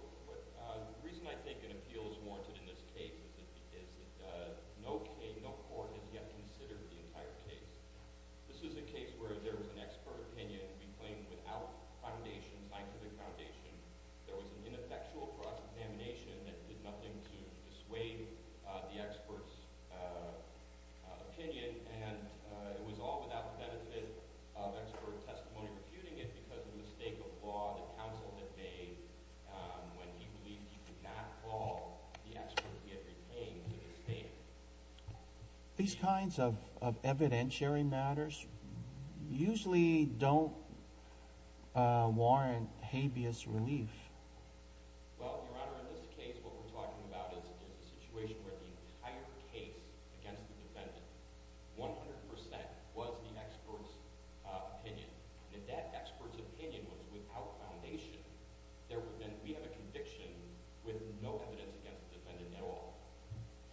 The reason I think an appeal is warranted in this case is that no court has yet considered the entire case. This is a case where there was an expert opinion, we claim, without scientific foundation, there was an ineffectual cross-examination that did nothing to dissuade the expert's opinion, and it was all without the benefit of expert testimony refuting it because of the mistake of law that counsel had made when he believed he could not call the expert he had retained to his state. These kinds of evidentiary matters usually don't warrant habeas relief. Well, Your Honor, in this case what we're talking about is a situation where the entire case against the defendant, 100% was the expert's opinion, and that expert's opinion was without foundation. We have a conviction with no evidence against the defendant at all.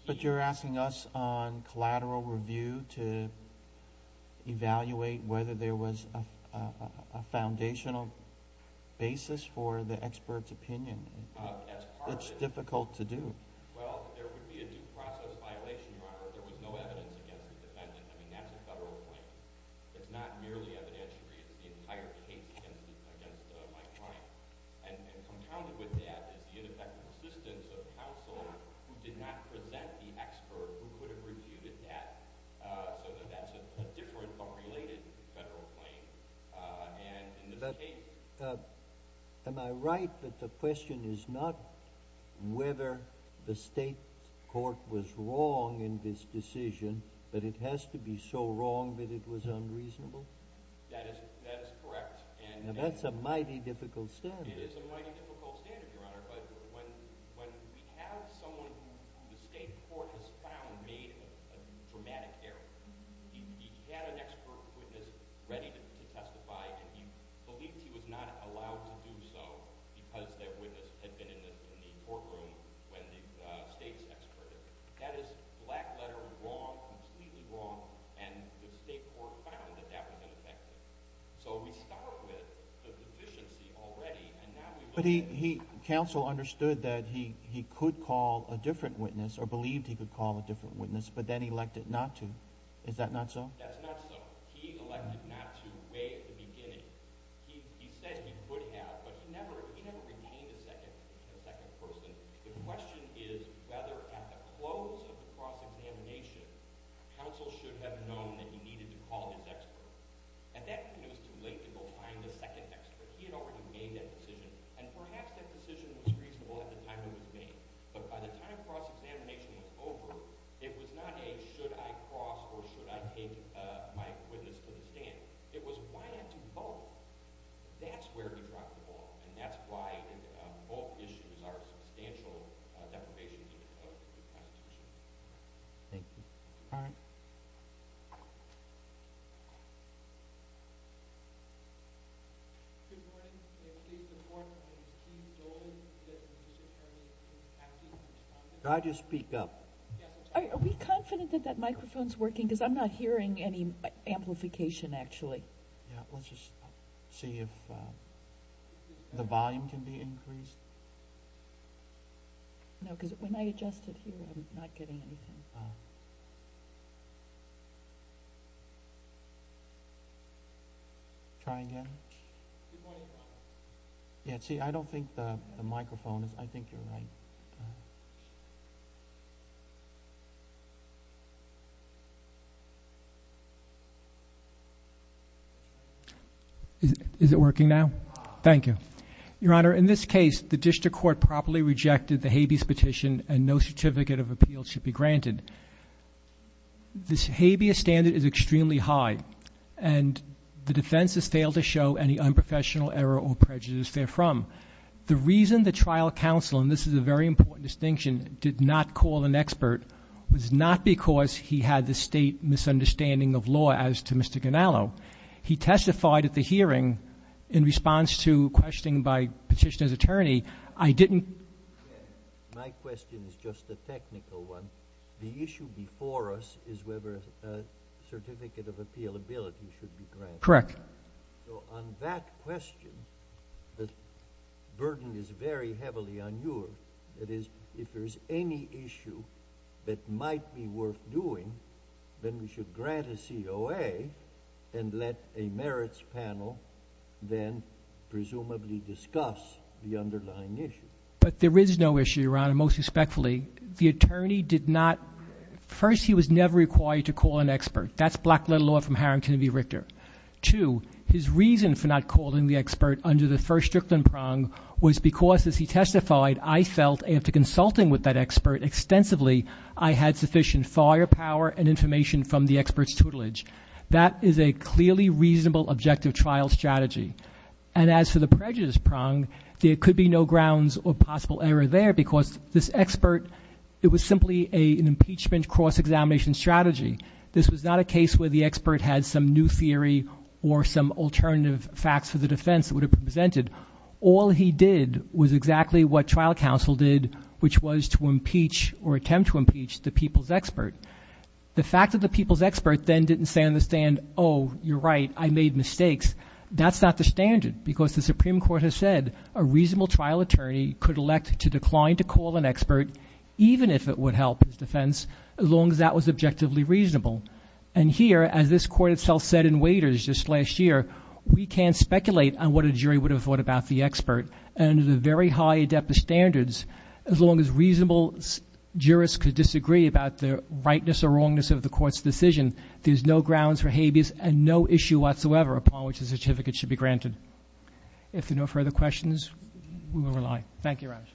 But you're asking us on collateral review to evaluate whether there was a foundational basis for the expert's opinion. That's part of it. It's difficult to do. Well, there would be a due process violation, Your Honor, if there was no evidence against the defendant. I mean, that's a federal claim. It's not merely evidentiary. It's the entire case against my client. And compounded with that is the ineffective assistance of counsel who did not present the expert who could have refuted that. So that's a different but related federal claim. But am I right that the question is not whether the state court was wrong in this decision, but it has to be so wrong that it was unreasonable? That is correct. Now, that's a mighty difficult standard. It is a mighty difficult standard, Your Honor. But when we have someone who the state court has found made a dramatic error, he had an expert witness ready to testify, and he believed he was not allowed to do so because that witness had been in the courtroom when the state's expert did it. That is black letter wrong, completely wrong, and the state court found that that was ineffective. So we start with the deficiency already, and now we look at it. Counsel understood that he could call a different witness or believed he could call a different witness, but then elected not to. Is that not so? That's not so. He elected not to way at the beginning. He said he would have, but he never retained a second person. The question is whether at the close of the cross-examination, counsel should have known that he needed to call his expert. At that point, it was too late to go find a second expert. He had already made that decision, and perhaps that decision was reasonable at the time it was made, but by the time cross-examination was over, it was not a should I cross or should I take my witness to the stand. It was why not do both? That's where he dropped the ball, and that's why both issues are substantial deprivations of the statute. Thank you. All right. Thank you. Good morning. My name is Steve Dolan. I'm going to speak up. Are we confident that that microphone is working? Because I'm not hearing any amplification, actually. Yeah, let's just see if the volume can be increased. No, because when I adjust it here, I'm not getting anything. Try again. Yeah, see, I don't think the microphone is. I think you're right. Is it working now? Thank you. Your Honor, in this case, the district court properly rejected the habeas petition, and no certificate of appeal should be granted. The habeas standard is extremely high, and the defense has failed to show any unprofessional error or prejudice therefrom. The reason the trial counsel, and this is a very important distinction, did not call an expert was not because he had the state misunderstanding of law as to Mr. Ganallo. He testified at the hearing in response to a question by a petitioner's attorney. I didn't. My question is just a technical one. The issue before us is whether a certificate of appealability should be granted. Correct. So on that question, the burden is very heavily on yours. That is, if there's any issue that might be worth doing, then we should grant a COA and let a merits panel then presumably discuss the underlying issue. But there is no issue, Your Honor, most respectfully. The attorney did not. First, he was never required to call an expert. That's black-letter law from Harrington v. Richter. Two, his reason for not calling the expert under the first Strickland prong was because, as he testified, I felt after consulting with that expert extensively, I had sufficient firepower and information from the expert's tutelage. That is a clearly reasonable objective trial strategy. And as for the prejudice prong, there could be no grounds or possible error there because this expert, it was simply an impeachment cross-examination strategy. This was not a case where the expert had some new theory or some alternative facts for the defense that would have been presented. All he did was exactly what trial counsel did, which was to impeach or attempt to impeach the people's expert. The fact that the people's expert then didn't stand the stand, oh, you're right, I made mistakes, that's not the standard because the Supreme Court has said a reasonable trial attorney could elect to decline to call an expert, even if it would help his defense, as long as that was objectively reasonable. And here, as this court itself said in Waiters just last year, we can't speculate on what a jury would have thought about the expert. Under the very high adeptus standards, as long as reasonable jurists could disagree about the rightness or wrongness of the court's decision, there's no grounds for habeas and no issue whatsoever upon which the certificate should be granted. If there are no further questions, we will rely. Thank you, Raj.